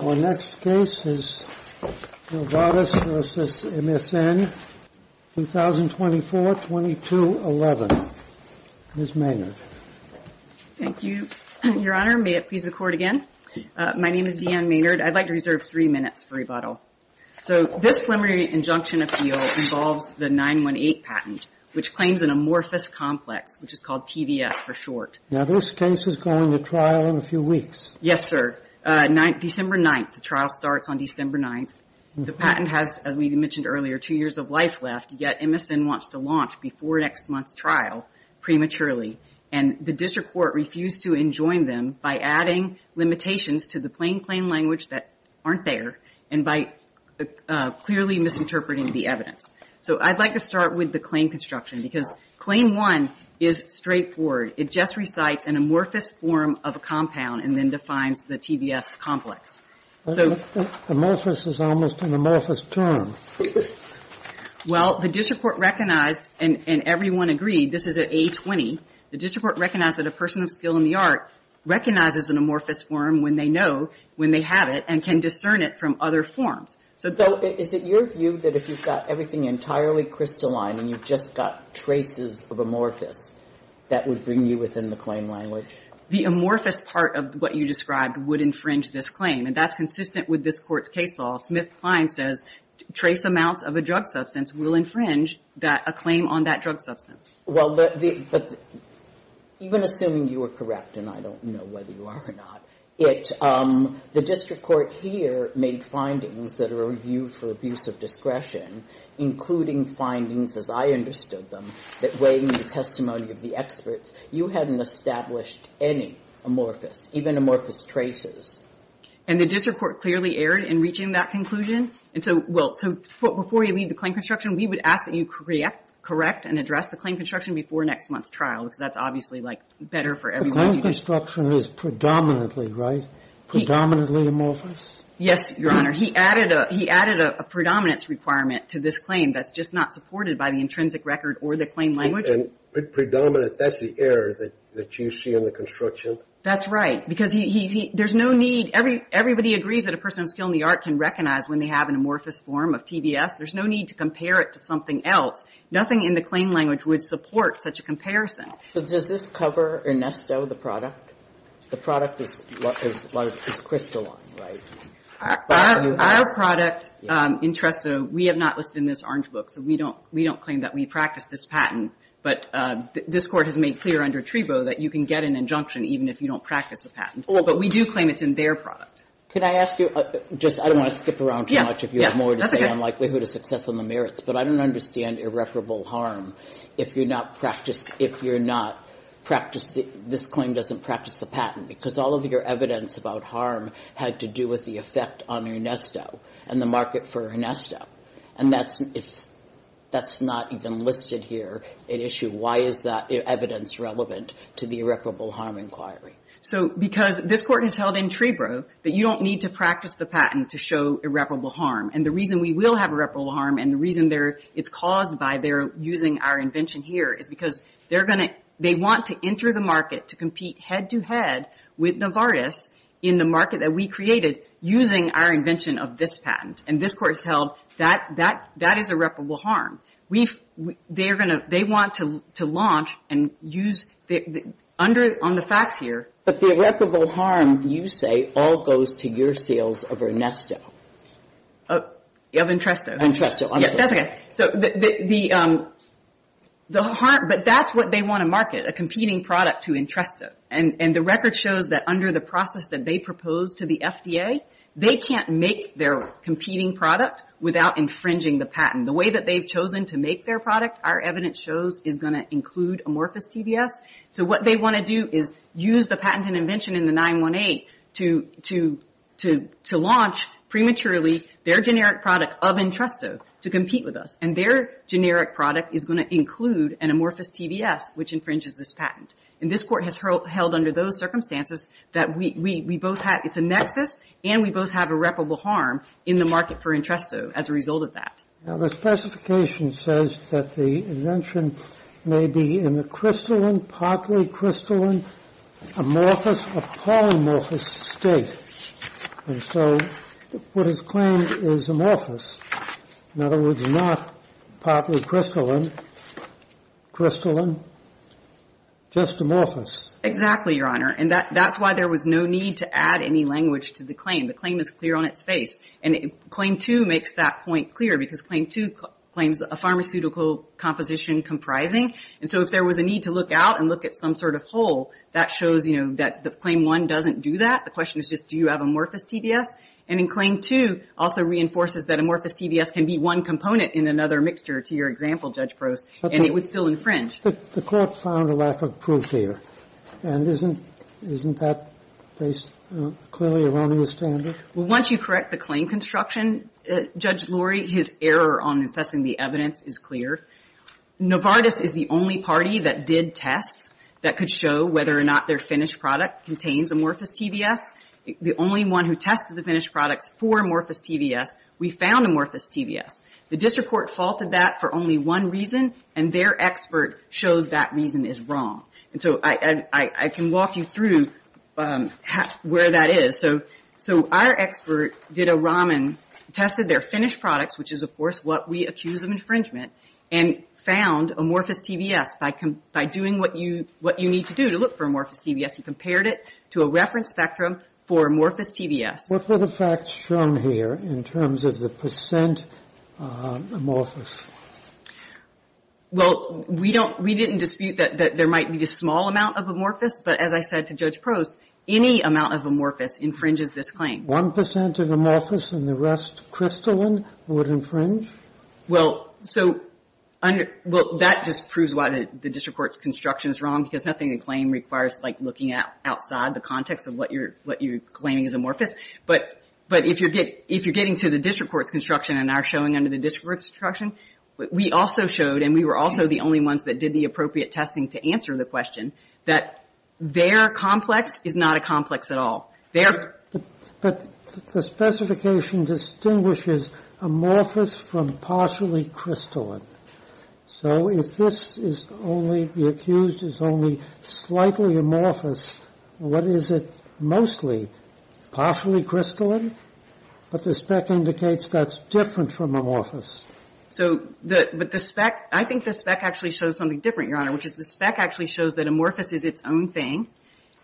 Our next case is Novartis v. MSN, 2024-2211. Ms. Maynard. Thank you, Your Honor. May it please the Court again? My name is Deanne Maynard. I'd like to reserve three minutes for rebuttal. So this preliminary injunction appeal involves the 918 patent, which claims an amorphous complex, which is called TVS for short. Now, this case is going to trial in a few weeks. Yes, sir. December 9th, the trial starts on December 9th. The patent has, as we mentioned earlier, two years of life left, yet MSN wants to launch before next month's trial prematurely. And the District Court refused to enjoin them by adding limitations to the plain claim language that aren't there and by clearly misinterpreting the evidence. So I'd like to start with the claim construction, because Claim 1 is straightforward. It just recites an amorphous form of a compound and then defines the TVS complex. Amorphous is almost an amorphous term. Well, the District Court recognized, and everyone agreed, this is an A20. The District Court recognized that a person of skill in the art recognizes an amorphous form when they know, when they have it, and can discern it from other forms. So is it your view that if you've got everything entirely crystalline and you've just got traces of amorphous, that would bring you within the claim language? The amorphous part of what you described would infringe this claim, and that's consistent with this Court's case law. Smith-Klein says trace amounts of a drug substance will infringe a claim on that drug substance. Well, but even assuming you are correct, and I don't know whether you are or not, the District Court here made findings that are reviewed for abuse of discretion, including findings, as I understood them, that weighing the testimony of the experts, you hadn't established any amorphous, even amorphous traces. And the District Court clearly erred in reaching that conclusion. And so, well, before you leave the claim construction, we would ask that you correct and address the claim construction before next month's trial, because that's obviously, like, better for everyone. The claim construction is predominantly, right? Predominantly amorphous? Yes, Your Honor. He added a predominance requirement to this claim that's just not supported by the intrinsic record or the claim language. And predominant, that's the error that you see in the construction? That's right. Because there's no need, everybody agrees that a person of skill in the art can recognize when they have an amorphous form of TBS. There's no need to compare it to something else. Nothing in the claim language would support such a comparison. But does this cover Ernesto, the product? The product is crystalline, right? Our product in Tresto, we have not listed in this orange book, so we don't claim that we practiced this patent. But this Court has made clear under Trebo that you can get an injunction even if you don't practice a patent. But we do claim it's in their product. Can I ask you, just, I don't want to skip around too much if you have more to say on likelihood of success on the merits, but I don't understand irreparable harm if you're not practicing, if you're not practicing, this claim doesn't practice the patent because all of your evidence about harm had to do with the effect on Ernesto and the market for Ernesto. And that's, that's not even listed here in issue. Why is that evidence relevant to the irreparable harm inquiry? So because this Court has held in Trebro that you don't need to practice the patent to show irreparable harm. And the reason we will have irreparable harm and the reason it's caused by their using our invention here is because they're going to, they want to enter the market to compete head-to-head with Novartis in the market that we created using our invention of this patent. And this Court has held that that is irreparable harm. We've, they're going to, they want to launch and use, under, on the facts here. But the irreparable harm, you say, all goes to your sales of Ernesto. Of Entresto. Entresto, I'm sorry. Yeah, that's okay. So the, the, the harm, but that's what they want to market, a competing product to Entresto. And, and the record shows that under the process that they proposed to the FDA, they can't make their competing product without infringing the patent. The way that they've chosen to make their product, our evidence shows, is going to include amorphous TBS. So what they want to do is use the patent and invention in the 918 to, to, to, to launch prematurely their generic product of Entresto to compete with us. And their generic product is going to include an amorphous TBS which infringes this patent. And this Court has held under those circumstances that we, we, we both have, it's a nexus and we both have irreparable harm in the market for Entresto as a result of that. Now, the specification says that the invention may be in a crystalline, partly crystalline, amorphous or polymorphous state. And so what is claimed is amorphous. In other words, not partly crystalline, crystalline, just amorphous. Exactly, Your Honor. And that, that's why there was no need to add any language to the claim. The claim is clear on its face. And Claim 2 makes that point clear because Claim 2 claims a pharmaceutical composition comprising. And so if there was a need to look out and look at some sort of hole, that shows, you know, that the Claim 1 doesn't do that. The question is just do you have amorphous TBS? And in Claim 2 also reinforces that amorphous TBS can be one component in another mixture to your example, Judge Prost. And it would still infringe. But the Court found a lack of proof here. And isn't, isn't that based clearly around the standard? Well, once you correct the claim construction, Judge Lurie, his error on assessing the evidence is clear. Novartis is the only party that did tests that could show whether or not their finished product contains amorphous TBS. The only one who tested the finished products for amorphous TBS, we found amorphous TBS. The District Court faulted that for only one reason and their expert shows that reason is wrong. And so I, I can walk you through where that is. So, so our expert did a Raman, tested their finished products, which is of course what we accuse of infringement, and found amorphous TBS by, by doing what you, what you need to do to look for amorphous TBS. He compared it to a reference spectrum for amorphous TBS. What were the facts shown here in terms of the percent amorphous? Well, we don't, we didn't dispute that, that there might be a small amount of amorphous. But as I said to Judge Prost, any amount of amorphous infringes this claim. One percent of amorphous and the rest crystalline would infringe? Well, so under, well, that just proves why the District Court's construction is wrong, because nothing the claim requires like looking at outside the context of what you're, what you're claiming is amorphous. But, but if you're getting, if you're getting to the District Court's construction and are showing under the District Court's construction, we also showed, and we were also the only ones that did the appropriate testing to answer the question, that their complex is not a complex at all. Their... But the specification distinguishes amorphous from partially crystalline. So if this is only, the accused is only slightly amorphous, what is it mostly, partially crystalline? But the spec indicates that's different from amorphous. So the, but the spec, I think the spec actually shows something different, Your Honor, which is the spec actually shows that amorphous is its own thing,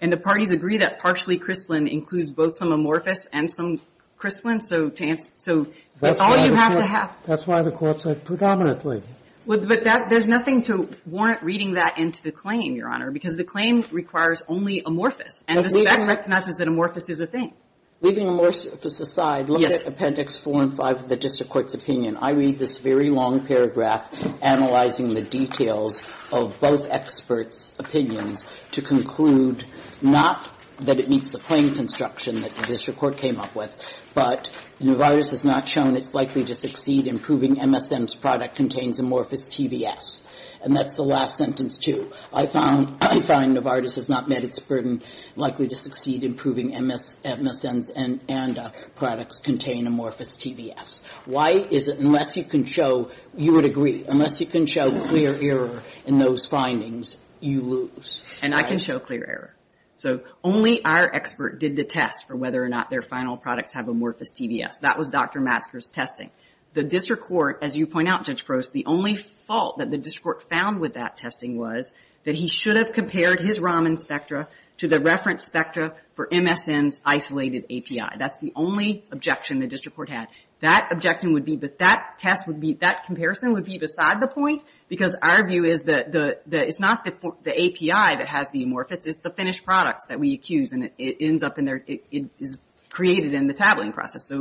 and the parties agree that partially crystalline includes both some amorphous and some crystalline, so to answer, so that's all you have to have. That's why the court said predominantly. But that, there's nothing to warrant reading that into the claim, Your Honor, because the claim requires only amorphous, and the spec recognizes that amorphous is a thing. Leaving amorphous aside, look at Appendix 4 and 5 of the District Court's opinion. I read this very long paragraph analyzing the details of both experts' opinions to conclude not that it meets the claim construction that the District Court came up with, but Novartis has not shown it's likely to succeed in proving MSM's product contains amorphous TBS. And that's the last sentence, too. I found Novartis has not met its burden likely to succeed in proving MSM's and ANDA products contain amorphous TBS. Why is it unless you can show, you would agree, unless you can show clear error in those findings, you lose? And I can show clear error. So only our expert did the test for whether or not their final products have amorphous TBS. That was Dr. Matsker's testing. The District Court, as you point out, Judge Gross, the only fault that the District Court found with that testing was that he should have compared his Raman spectra to the reference spectra for MSM's isolated API. That's the only objection the District Court had. That objection would be, that test would be, that comparison would be beside the point because our view is that it's not the API that has the amorphous, it's the finished products that we accuse and it ends up in their, it is created in the tabling process.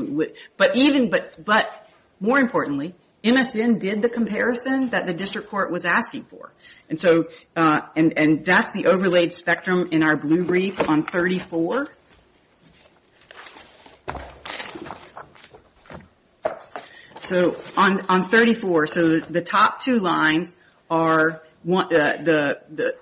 But even, but more importantly, MSM did the comparison that the District Court was asking for. And so, and that's the overlaid spectrum in our blue brief on 34. So on 34, so the top two lines are, the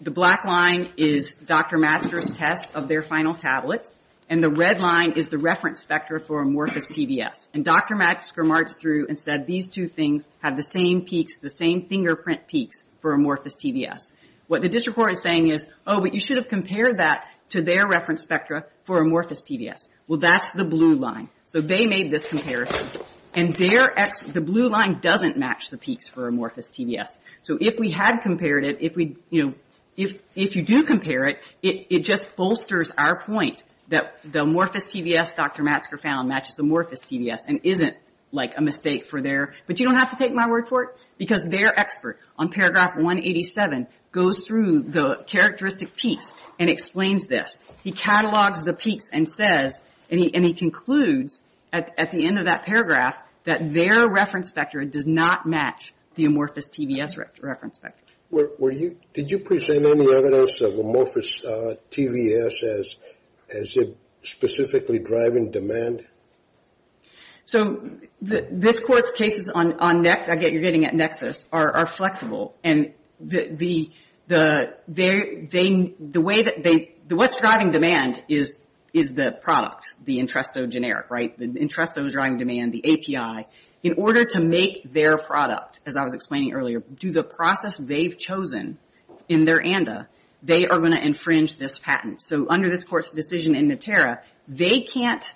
black line is Dr. Matsker's test of their final tablets and the red line is the reference spectra for amorphous TBS. And Dr. Matsker marched through and said these two things have the same peaks, the same fingerprint peaks for amorphous TBS. What the District Court is saying is, oh, but you should have compared that to their reference spectra for amorphous TBS. Well, that's the blue line. So they made this comparison. And their, the blue line doesn't match the peaks for amorphous TBS. So if we had compared it, if we, you know, if you do compare it, it just bolsters our point that the amorphous TBS Dr. Matsker found matches amorphous TBS and isn't like a mistake for their, but you don't have to take my word for it because their expert on paragraph 187 goes through the characteristic peaks and explains this. He catalogs the peaks and says, and he concludes at the end of that paragraph that their reference spectra does not match the amorphous TBS reference spectra. Were you, did you present any evidence of amorphous TBS as it specifically driving demand? So, this Court's cases on Nexus, I get you're getting at Nexus, are flexible. the, the, they, the way that they, what's driving demand is, is the product, the interest of generic, right? The interest of driving demand, the API in order to make their product as I was explaining earlier do the process they've chosen in their ANDA, they are going to infringe this patent. So, under this Court's decision in Natera, they can't,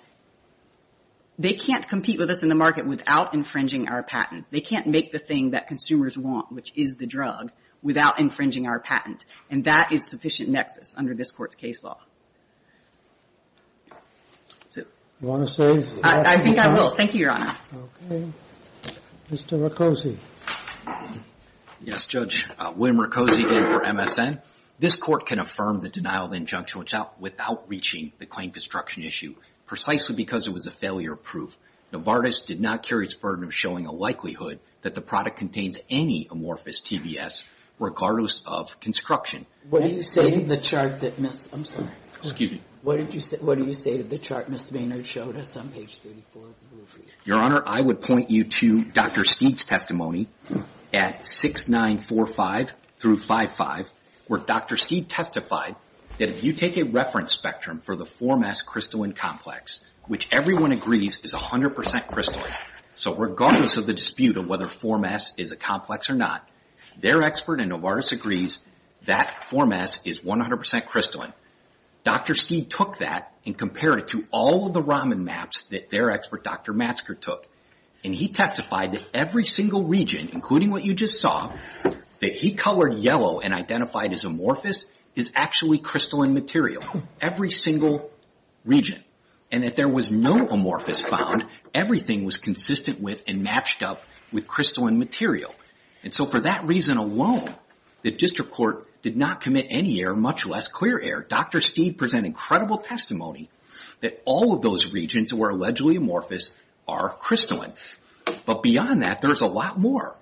they can't compete with us in the market without infringing our patent. They can't make the thing that consumers want which is the drug without infringing our patent. And that is sufficient Nexus under this Court's case law. You want to say something? I think I will. Thank you, Your Honor. Okay. Mr. Mercosi. Yes, Judge. William Mercosi here for MSN. This Court can affirm the denial of injunction without reaching the claim construction issue precisely because it was a failure of proof. Novartis did not carry its burden of showing a likelihood that the product contains any amorphous TBS regardless of construction. What do you say to the chart that Ms. I'm sorry. Excuse me. What do you say to the chart Ms. Maynard showed us on page 34 of the rule sheet? Your Honor, I would point you to Dr. Steed's testimony at 6945 through 55 where Dr. Steed testified that if you take a reference spectrum for the 4MAS crystalline complex which everyone agrees is 100% crystalline. So, regardless of the dispute of whether 4MAS is a complex or not, their expert in Novartis agrees that 4MAS is 100% crystalline. Dr. Steed took that and compared it to all of the Raman maps that their expert Dr. Matsker took and he testified that every single region including what you just saw that he colored yellow and identified as amorphous is actually crystalline material every single region and that there was no amorphous found. Everything was consistent with and matched up with crystalline material and so for that reason alone the district court did not commit any error much less clear error. Dr. Steed presented incredible testimony that all of those regions that were allegedly amorphous are crystalline. But beyond that there is a lot more.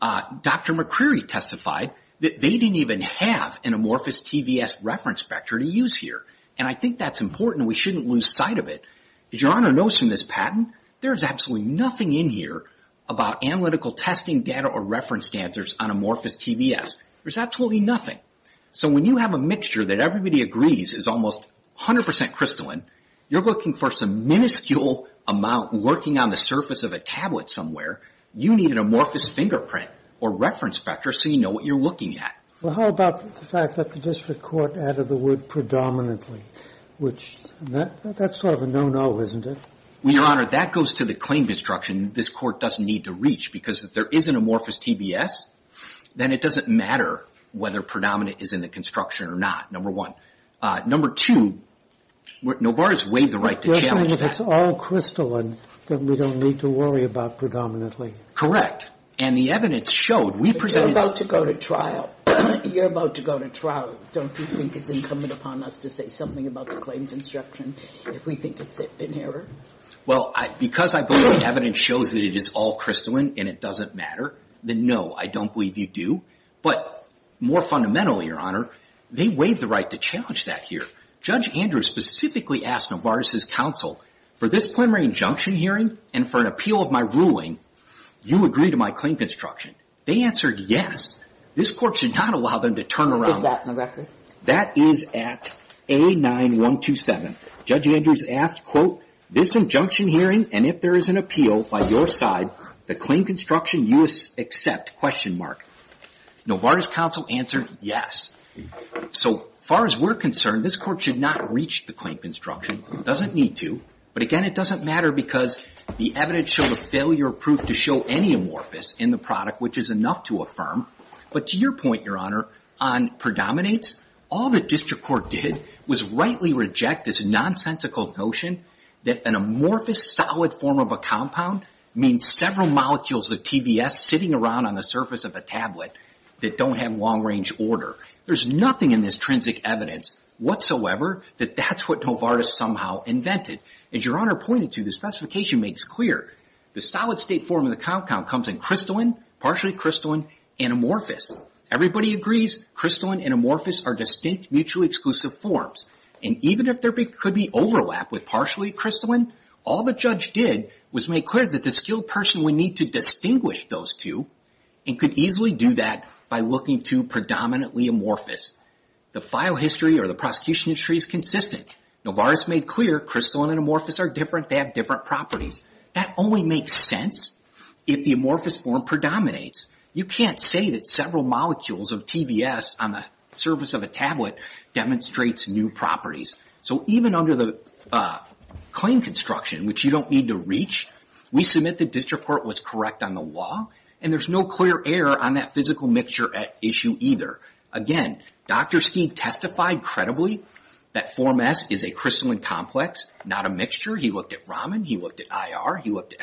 Dr. McCreary testified that they didn't even have an amorphous TVS reference spectra to use here and I think that's important and we shouldn't lose sight of it. As Your Honor knows from this patent there is absolutely nothing in here about analytical testing data or reference standards on amorphous TVS. There's absolutely nothing. So when you have a mixture that everybody agrees is almost 100% crystalline you're looking for some minuscule amount lurking on the surface of a tablet somewhere you need an amorphous fingerprint or reference spectra so you know what you're looking at. Well how about the fact that the district court added the word predominantly which that's sort of a no-no isn't it? Well Your Honor that goes to the claim construction this court doesn't need to reach because if there is an amorphous TVS then it doesn't matter whether predominant is in the construction or not number one. Number two Novartis waived the right to challenge that. if it's all crystalline then we don't need to worry about predominantly. Correct and the evidence showed we presented You're about to go to trial don't you think it's incumbent upon us to say something about the claim construction if we think it's in error? Well because I believe the evidence shows that it is all crystalline and it doesn't matter then no I don't believe you do but more fundamentally Your Honor they waived the right to challenge that here. Judge Andrew specifically asked Novartis' counsel for this preliminary injunction hearing and for an appeal of my ruling you agree to my claim construction they answered yes this court should not allow them to turn around Is that my record? That is at A9127 Judge Andrew asked quote this injunction hearing and if there is an appeal by your side the claim construction you accept question mark Novartis' counsel answered yes so far as we're concerned this court should not reach the claim construction it doesn't need but again it doesn't matter because the evidence showed a failure of proof to show any amorphous in the product which is enough to affirm but to your point Your Honor on predominates all the district court did was rightly reject this nonsensical notion that an amorphous solid form of a compound means several molecules of TBS sitting around on the surface of a tablet that don't have long range order there's nothing in this intrinsic evidence whatsoever that that's what Novartis somehow invented as Your Honor pointed to the specification makes clear the solid state form of the compound comes in crystalline partially crystalline and amorphous everybody agrees crystalline and amorphous are distinct mutually exclusive forms and even if there could be overlap with partially crystalline all the judge did was make clear that the skilled person would need to distinguish those two and could easily do that by looking to predominantly amorphous the file history or the prosecution history is consistent Novartis made clear crystalline and amorphous are different they have different properties that only makes sense if the amorphous form predominates you can't say that several molecules of TBS on the surface of a tablet demonstrates new properties so even under the claim construction which you don't need to reach we submit that this report was correct on the law and there's no clear error on that physical mixture issue either again Dr. Steig testified credibly that form S is a crystalline complex not a mixture he looked at Raman he looked at IR he looked at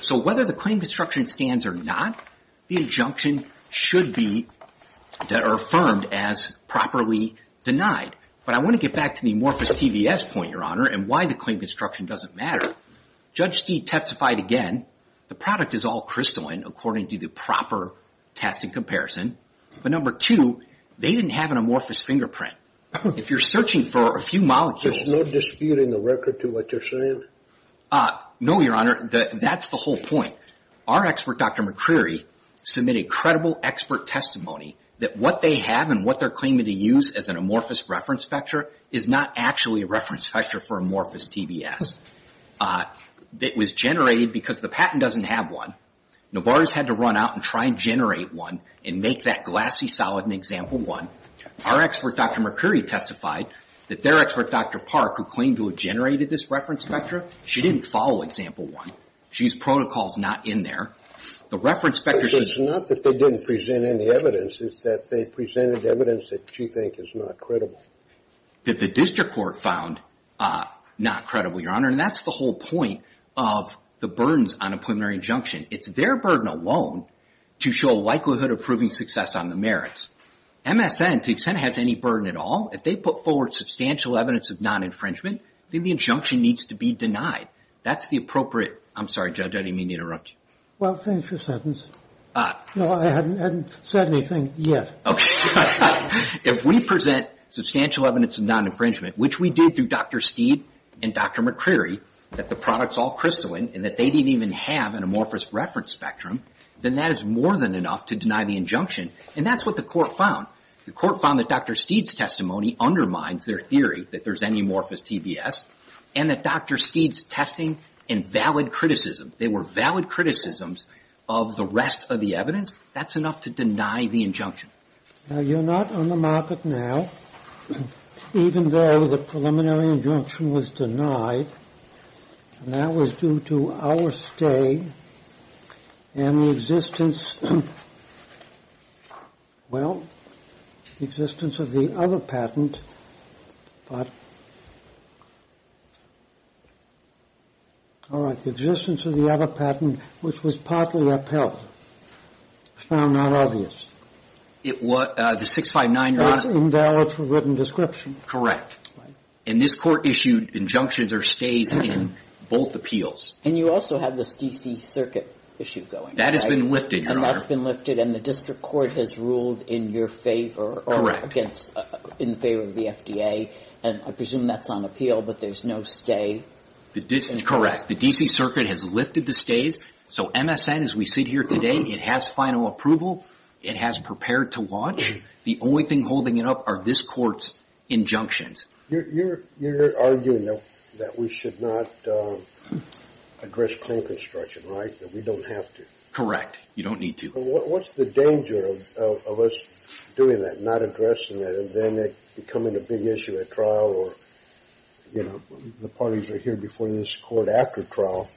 so whether the claim construction stands or not the injunction should be affirmed as properly denied but I want to get back to the amorphous TBS point your honor and why the claim construction doesn't matter Judge Steig testified again the product is all crystalline according to the proper testing comparison but number two they didn't have an amorphous fingerprint if you're at this point our expert Dr. McCreary submitted credible expert testimony that what they have and what they're claiming to use as an amorphous reference factor is not actually a reference factor for amorphous TBS that was generated because the patent doesn't have one Novartis had to run out and try and generate one and make that glassy solid and example one our expert Dr. McCreary testified that their expert Dr. Park who claimed to have this reference factor she didn't follow example one she used protocols not in there the reference factors it's not that they didn't present any evidence it's that they presented evidence that you think is not credible that the district court found not credible your honor and that's the whole point of the burdens on a preliminary injunction it's their burden alone to show likelihood of proving success on the merits MSN to the extent it has any burden at all if they put forward substantial evidence of non infringement the injunction needs to be denied that's the appropriate I'm sorry judge I didn't mean to you if we present substantial evidence of non infringement which we did through Dr. Steed and Dr. McCreary that the products all crystalline and that they didn't even have an amorphous reference spectrum then that is more than enough to deny the and that's what the court found the court found that Dr. Steed's testimony undermines their theory that there's any amorphous TBS and that Dr. Steed's testimony and valid criticism they were valid criticisms of the rest of the evidence that's enough to deny the injunction you're not on the market now even though the preliminary injunction was denied and that was due to our stay and the well the existence of the other patent but all right the existence of the other patent which was partly upheld found not obvious it was the 659 invalid for written description correct and this court issued injunctions or stays in both appeals and you also have this DC circuit issue going that has been lifted and that's been lifted and the I presume that's on appeal but there's no stay correct the DC circuit has lifted the stays so MSN as we sit here today it has final approval it has prepared to launch the only thing holding it up are this court's injunctions you're arguing that we should not address claim construction right we don't have to correct you don't need to what's the danger of us doing that not addressing that and then it becoming a big issue at trial or you know the parties are here before this court after trial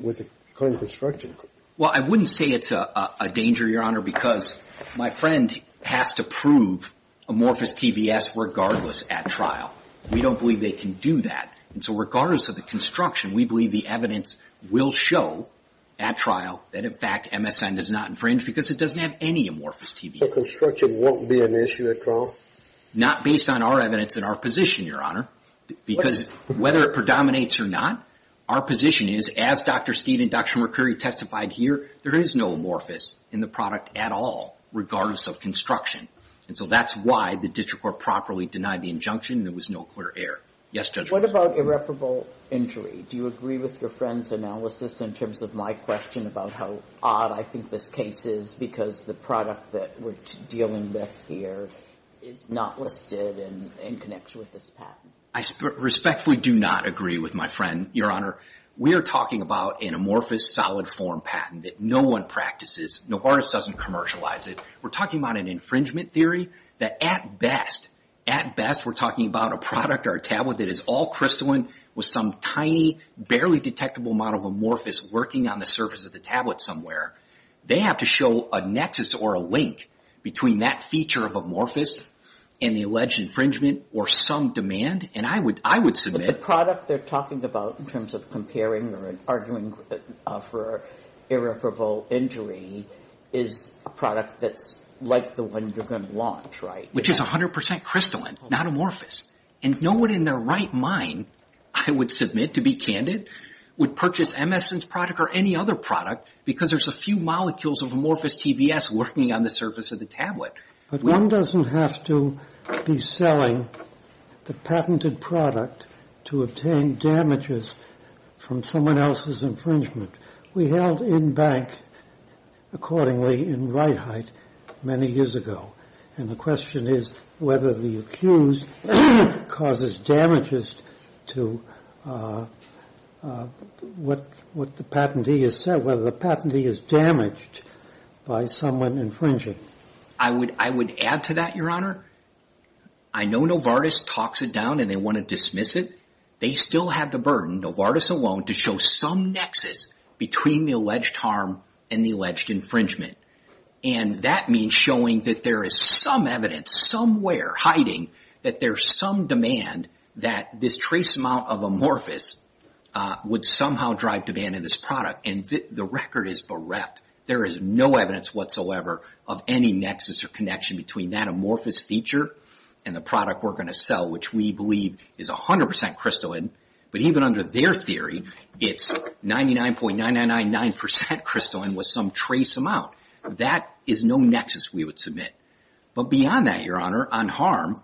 with the claim construction well I wouldn't say it's a a danger your honor because my friend has to prove amorphous TVS regardless at trial we don't believe they can do that so regardless of the construction we believe the evidence will show at trial that in fact MSN is not infringed because it doesn't have any amorphous TVS so construction won't be an issue at trial not based on our evidence and our position your honor because whether it predominates or not our position is as Dr. Steed and Dr. Mercury testified here there is no amorphous in the product at all regardless of construction so that's why the district court properly denied the injunction there was no clear error yes judge what about irreparable injury do you agree with your friend's analysis in terms of my question about how odd I think this case is because the product that we're dealing with here is not listed and connects with this patent I respectfully do not agree with my friend your honor we are talking about an amorphous solid form patent that no one practices Novartis doesn't commercialize it we're talking about an infringement theory that at best at best we're talking about a product or a tablet that is all crystalline with some tiny barely detectable amount of amorphous working on the surface of the tablet somewhere they have to show a nexus or a link between that feature of amorphous and the alleged infringement or some demand and I would submit but the product they're talking about in terms of comparing or arguing for irreparable injury is a product that's like the one you're going to launch right which is a hundred percent crystalline not amorphous and no one in their right mind I would submit to be candid would purchase MSN's product or any other product because there's a few molecules of amorphous TBS working on the surface of the tablet but one doesn't have to be selling the patented product to obtain damages from someone else's infringement we held in bank accordingly in right height many years ago and the question is whether the accused causes damages to what the patentee has said whether the patentee is damaged by someone infringing I would add to that your honor I know Novartis talks it down and they want to dismiss it they still have the burden Novartis alone to show some nexus between the alleged harm and the alleged infringement and that means showing that there is some evidence somewhere hiding that there is some demand that this trace amount of amorphous would somehow drive demand in this product and the record is bereft there is no evidence whatsoever of any nexus or connection between that amorphous feature and the product we're going to sell which we believe is 100% crystalline but even under their theory it's 99.999% crystalline with some trace amount that is no nexus we would submit but beyond that your honor on harm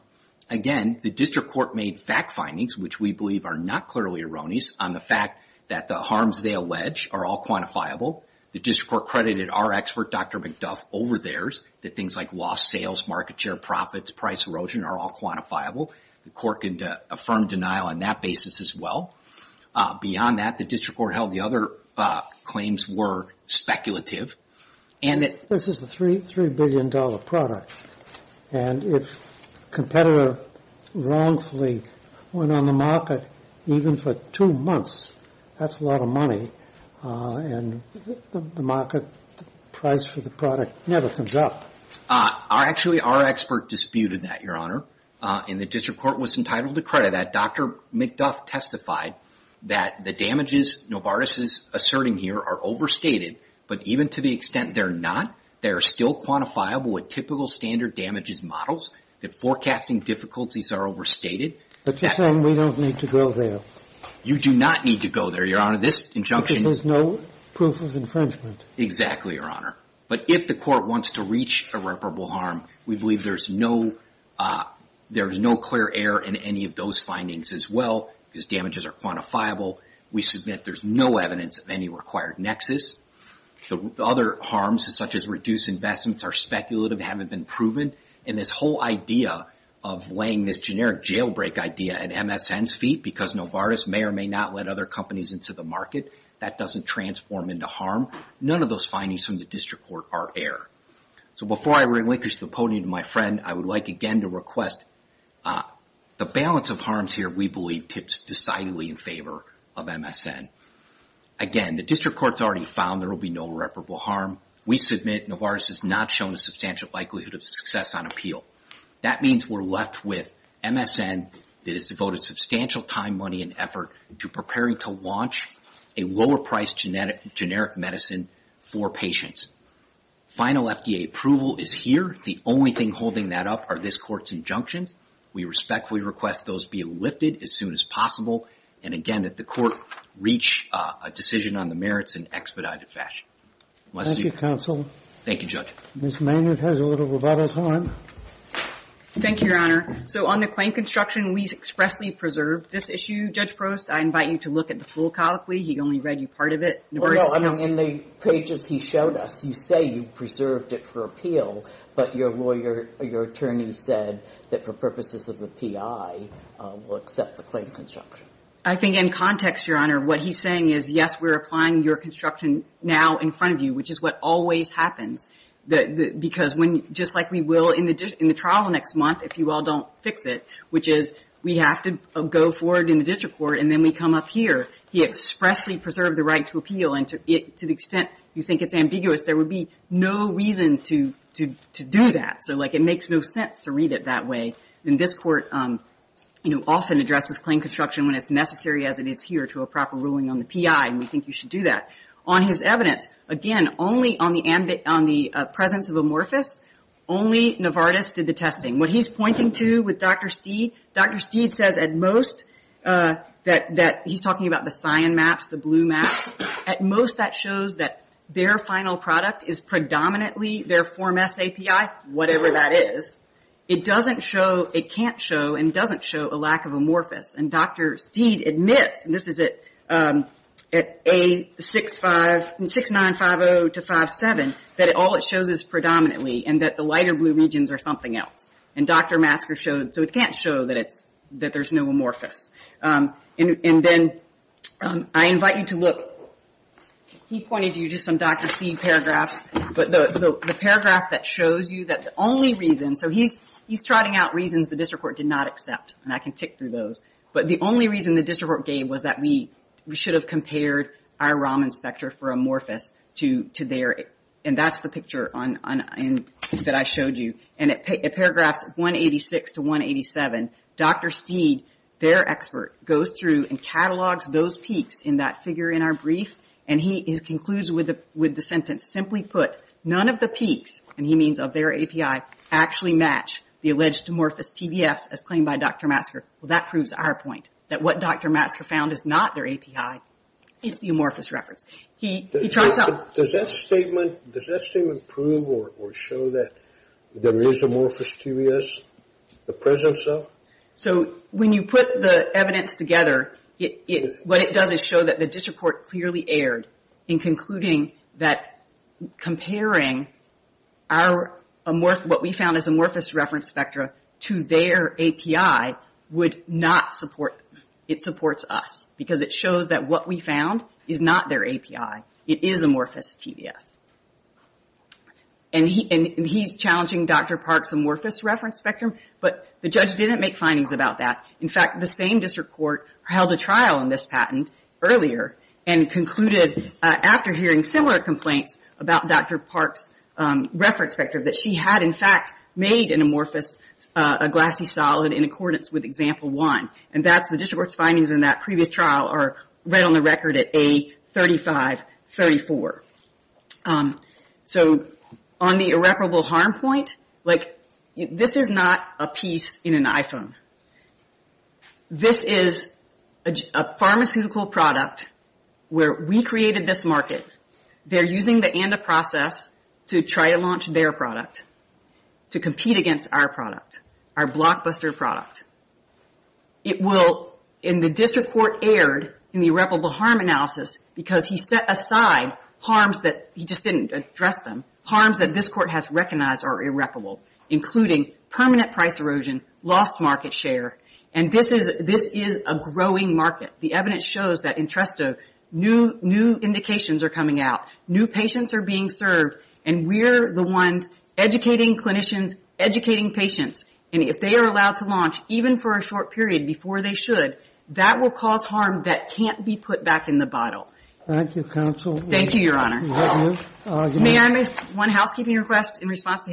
again the district court made fact findings which we believe are not clearly erroneous on the fact that the harms they allege are all quantifiable the district court credited our expert Dr. McDuff over theirs that things like lost sales market share profits price erosion are all quantifiable the court can affirm denial on that basis as well beyond that the district court held the other claims were speculative and that this is a 3 billion dollar product and if competitor wrongfully went on the market even for two months that's a lot of money and the market price for the product never comes up actually our expert disputed that your honor and the district court was entitled to credit that Dr. McDuff testified that the damages Novartis is asserting here are overstated but even to the extent that they're not they're still quantifiable with typical standard damages models that forecasting difficulties are overstated but you're saying we don't need to go there you do not need to go there your honor this injunction there's no proof of infringement exactly your honor but if the court wants to reach irreparable harm we believe there's no there's no clear error in any of those findings as well because damages are quantifiable we submit there's no evidence of any required nexus the other harms such as reduced investments are speculative haven't been proven and this whole idea of laying this generic jailbreak idea at MSN's feet because Novartis may or may not let other companies into the market that doesn't transform into harm none of those findings from the district court are error so before I relinquish the podium to my friend I would like again to request the balance of harms here we believe tips decidedly in favor of MSN again the district court's already found there will be no irreparable harm we submit Novartis has not shown a likelihood of success on appeal that means we're left with MSN that is devoted substantial time money and effort to preparing to launch a lower priced generic medicine for patients final FDA approval is here the only thing holding that up are this court's injunctions we respectfully request those be lifted as soon as and again that the court reach a decision on the merits in expedited fashion thank you counsel thank you thank the pages he showed us you say preserved for appeal the attorney for in context your honor what he's is yes we're applying your construction now in front of you which is what always happens because just like we will in the trial next month if you all don't fix it which is we have to go forward in the court and then we come up here he expressly preserved the right to to the extent you think it's ambiguous there would be no reason to do that it makes no sense to read it that way this court often addresses claim construction when it's necessary we think you should do that on his evidence only on the presence of amorphous only Novartis did the testing Dr. Steed says at most that he's talking about the cyan maps the blue maps at most that shows that their final product is predominantly their form S API whatever that is it can't show and doesn't show a lack of amorphous Dr. Steed admits that all it shows is predominantly the lighter blue and it paragraphs 186 to 187 Dr. Steed their expert goes through and catalogs those peaks in that figure in our brief and he concludes with the sentence simply put none of the peaks of their API actually match the amorphous reference he tries out does that statement prove or show that there is amorphous TBS the presence of so when you put the evidence together what it does is show the report clearly in concluding that comparing our amorphous spectrum to their API would not support us because it shows what we found is not their API it is amorphous TBS and he is challenging the spectrum but the judge did not make that concluded after hearing similar complaints that she had in fact made an amorphous glassy solid in accordance with example one and the findings in that previous trial are right on record A35 34 so on the irreparable harm point this is not a piece in an iPhone this is a pharmaceutical product where we created this market they are using the ANDA process to try to launch their product to compete against our product our blockbuster product it will in the district court aired the irreparable harm analysis because he set aside harms that this court has recognized are irreparable including permanent price erosion lost market this is a growing market the evidence shows new indications are coming out new patients are being served we are the ones educating clinicians educating patients if they are allowed to do will cause harm that can't be put back in the bottle thank you your honor may I make one housekeeping request in response to his if you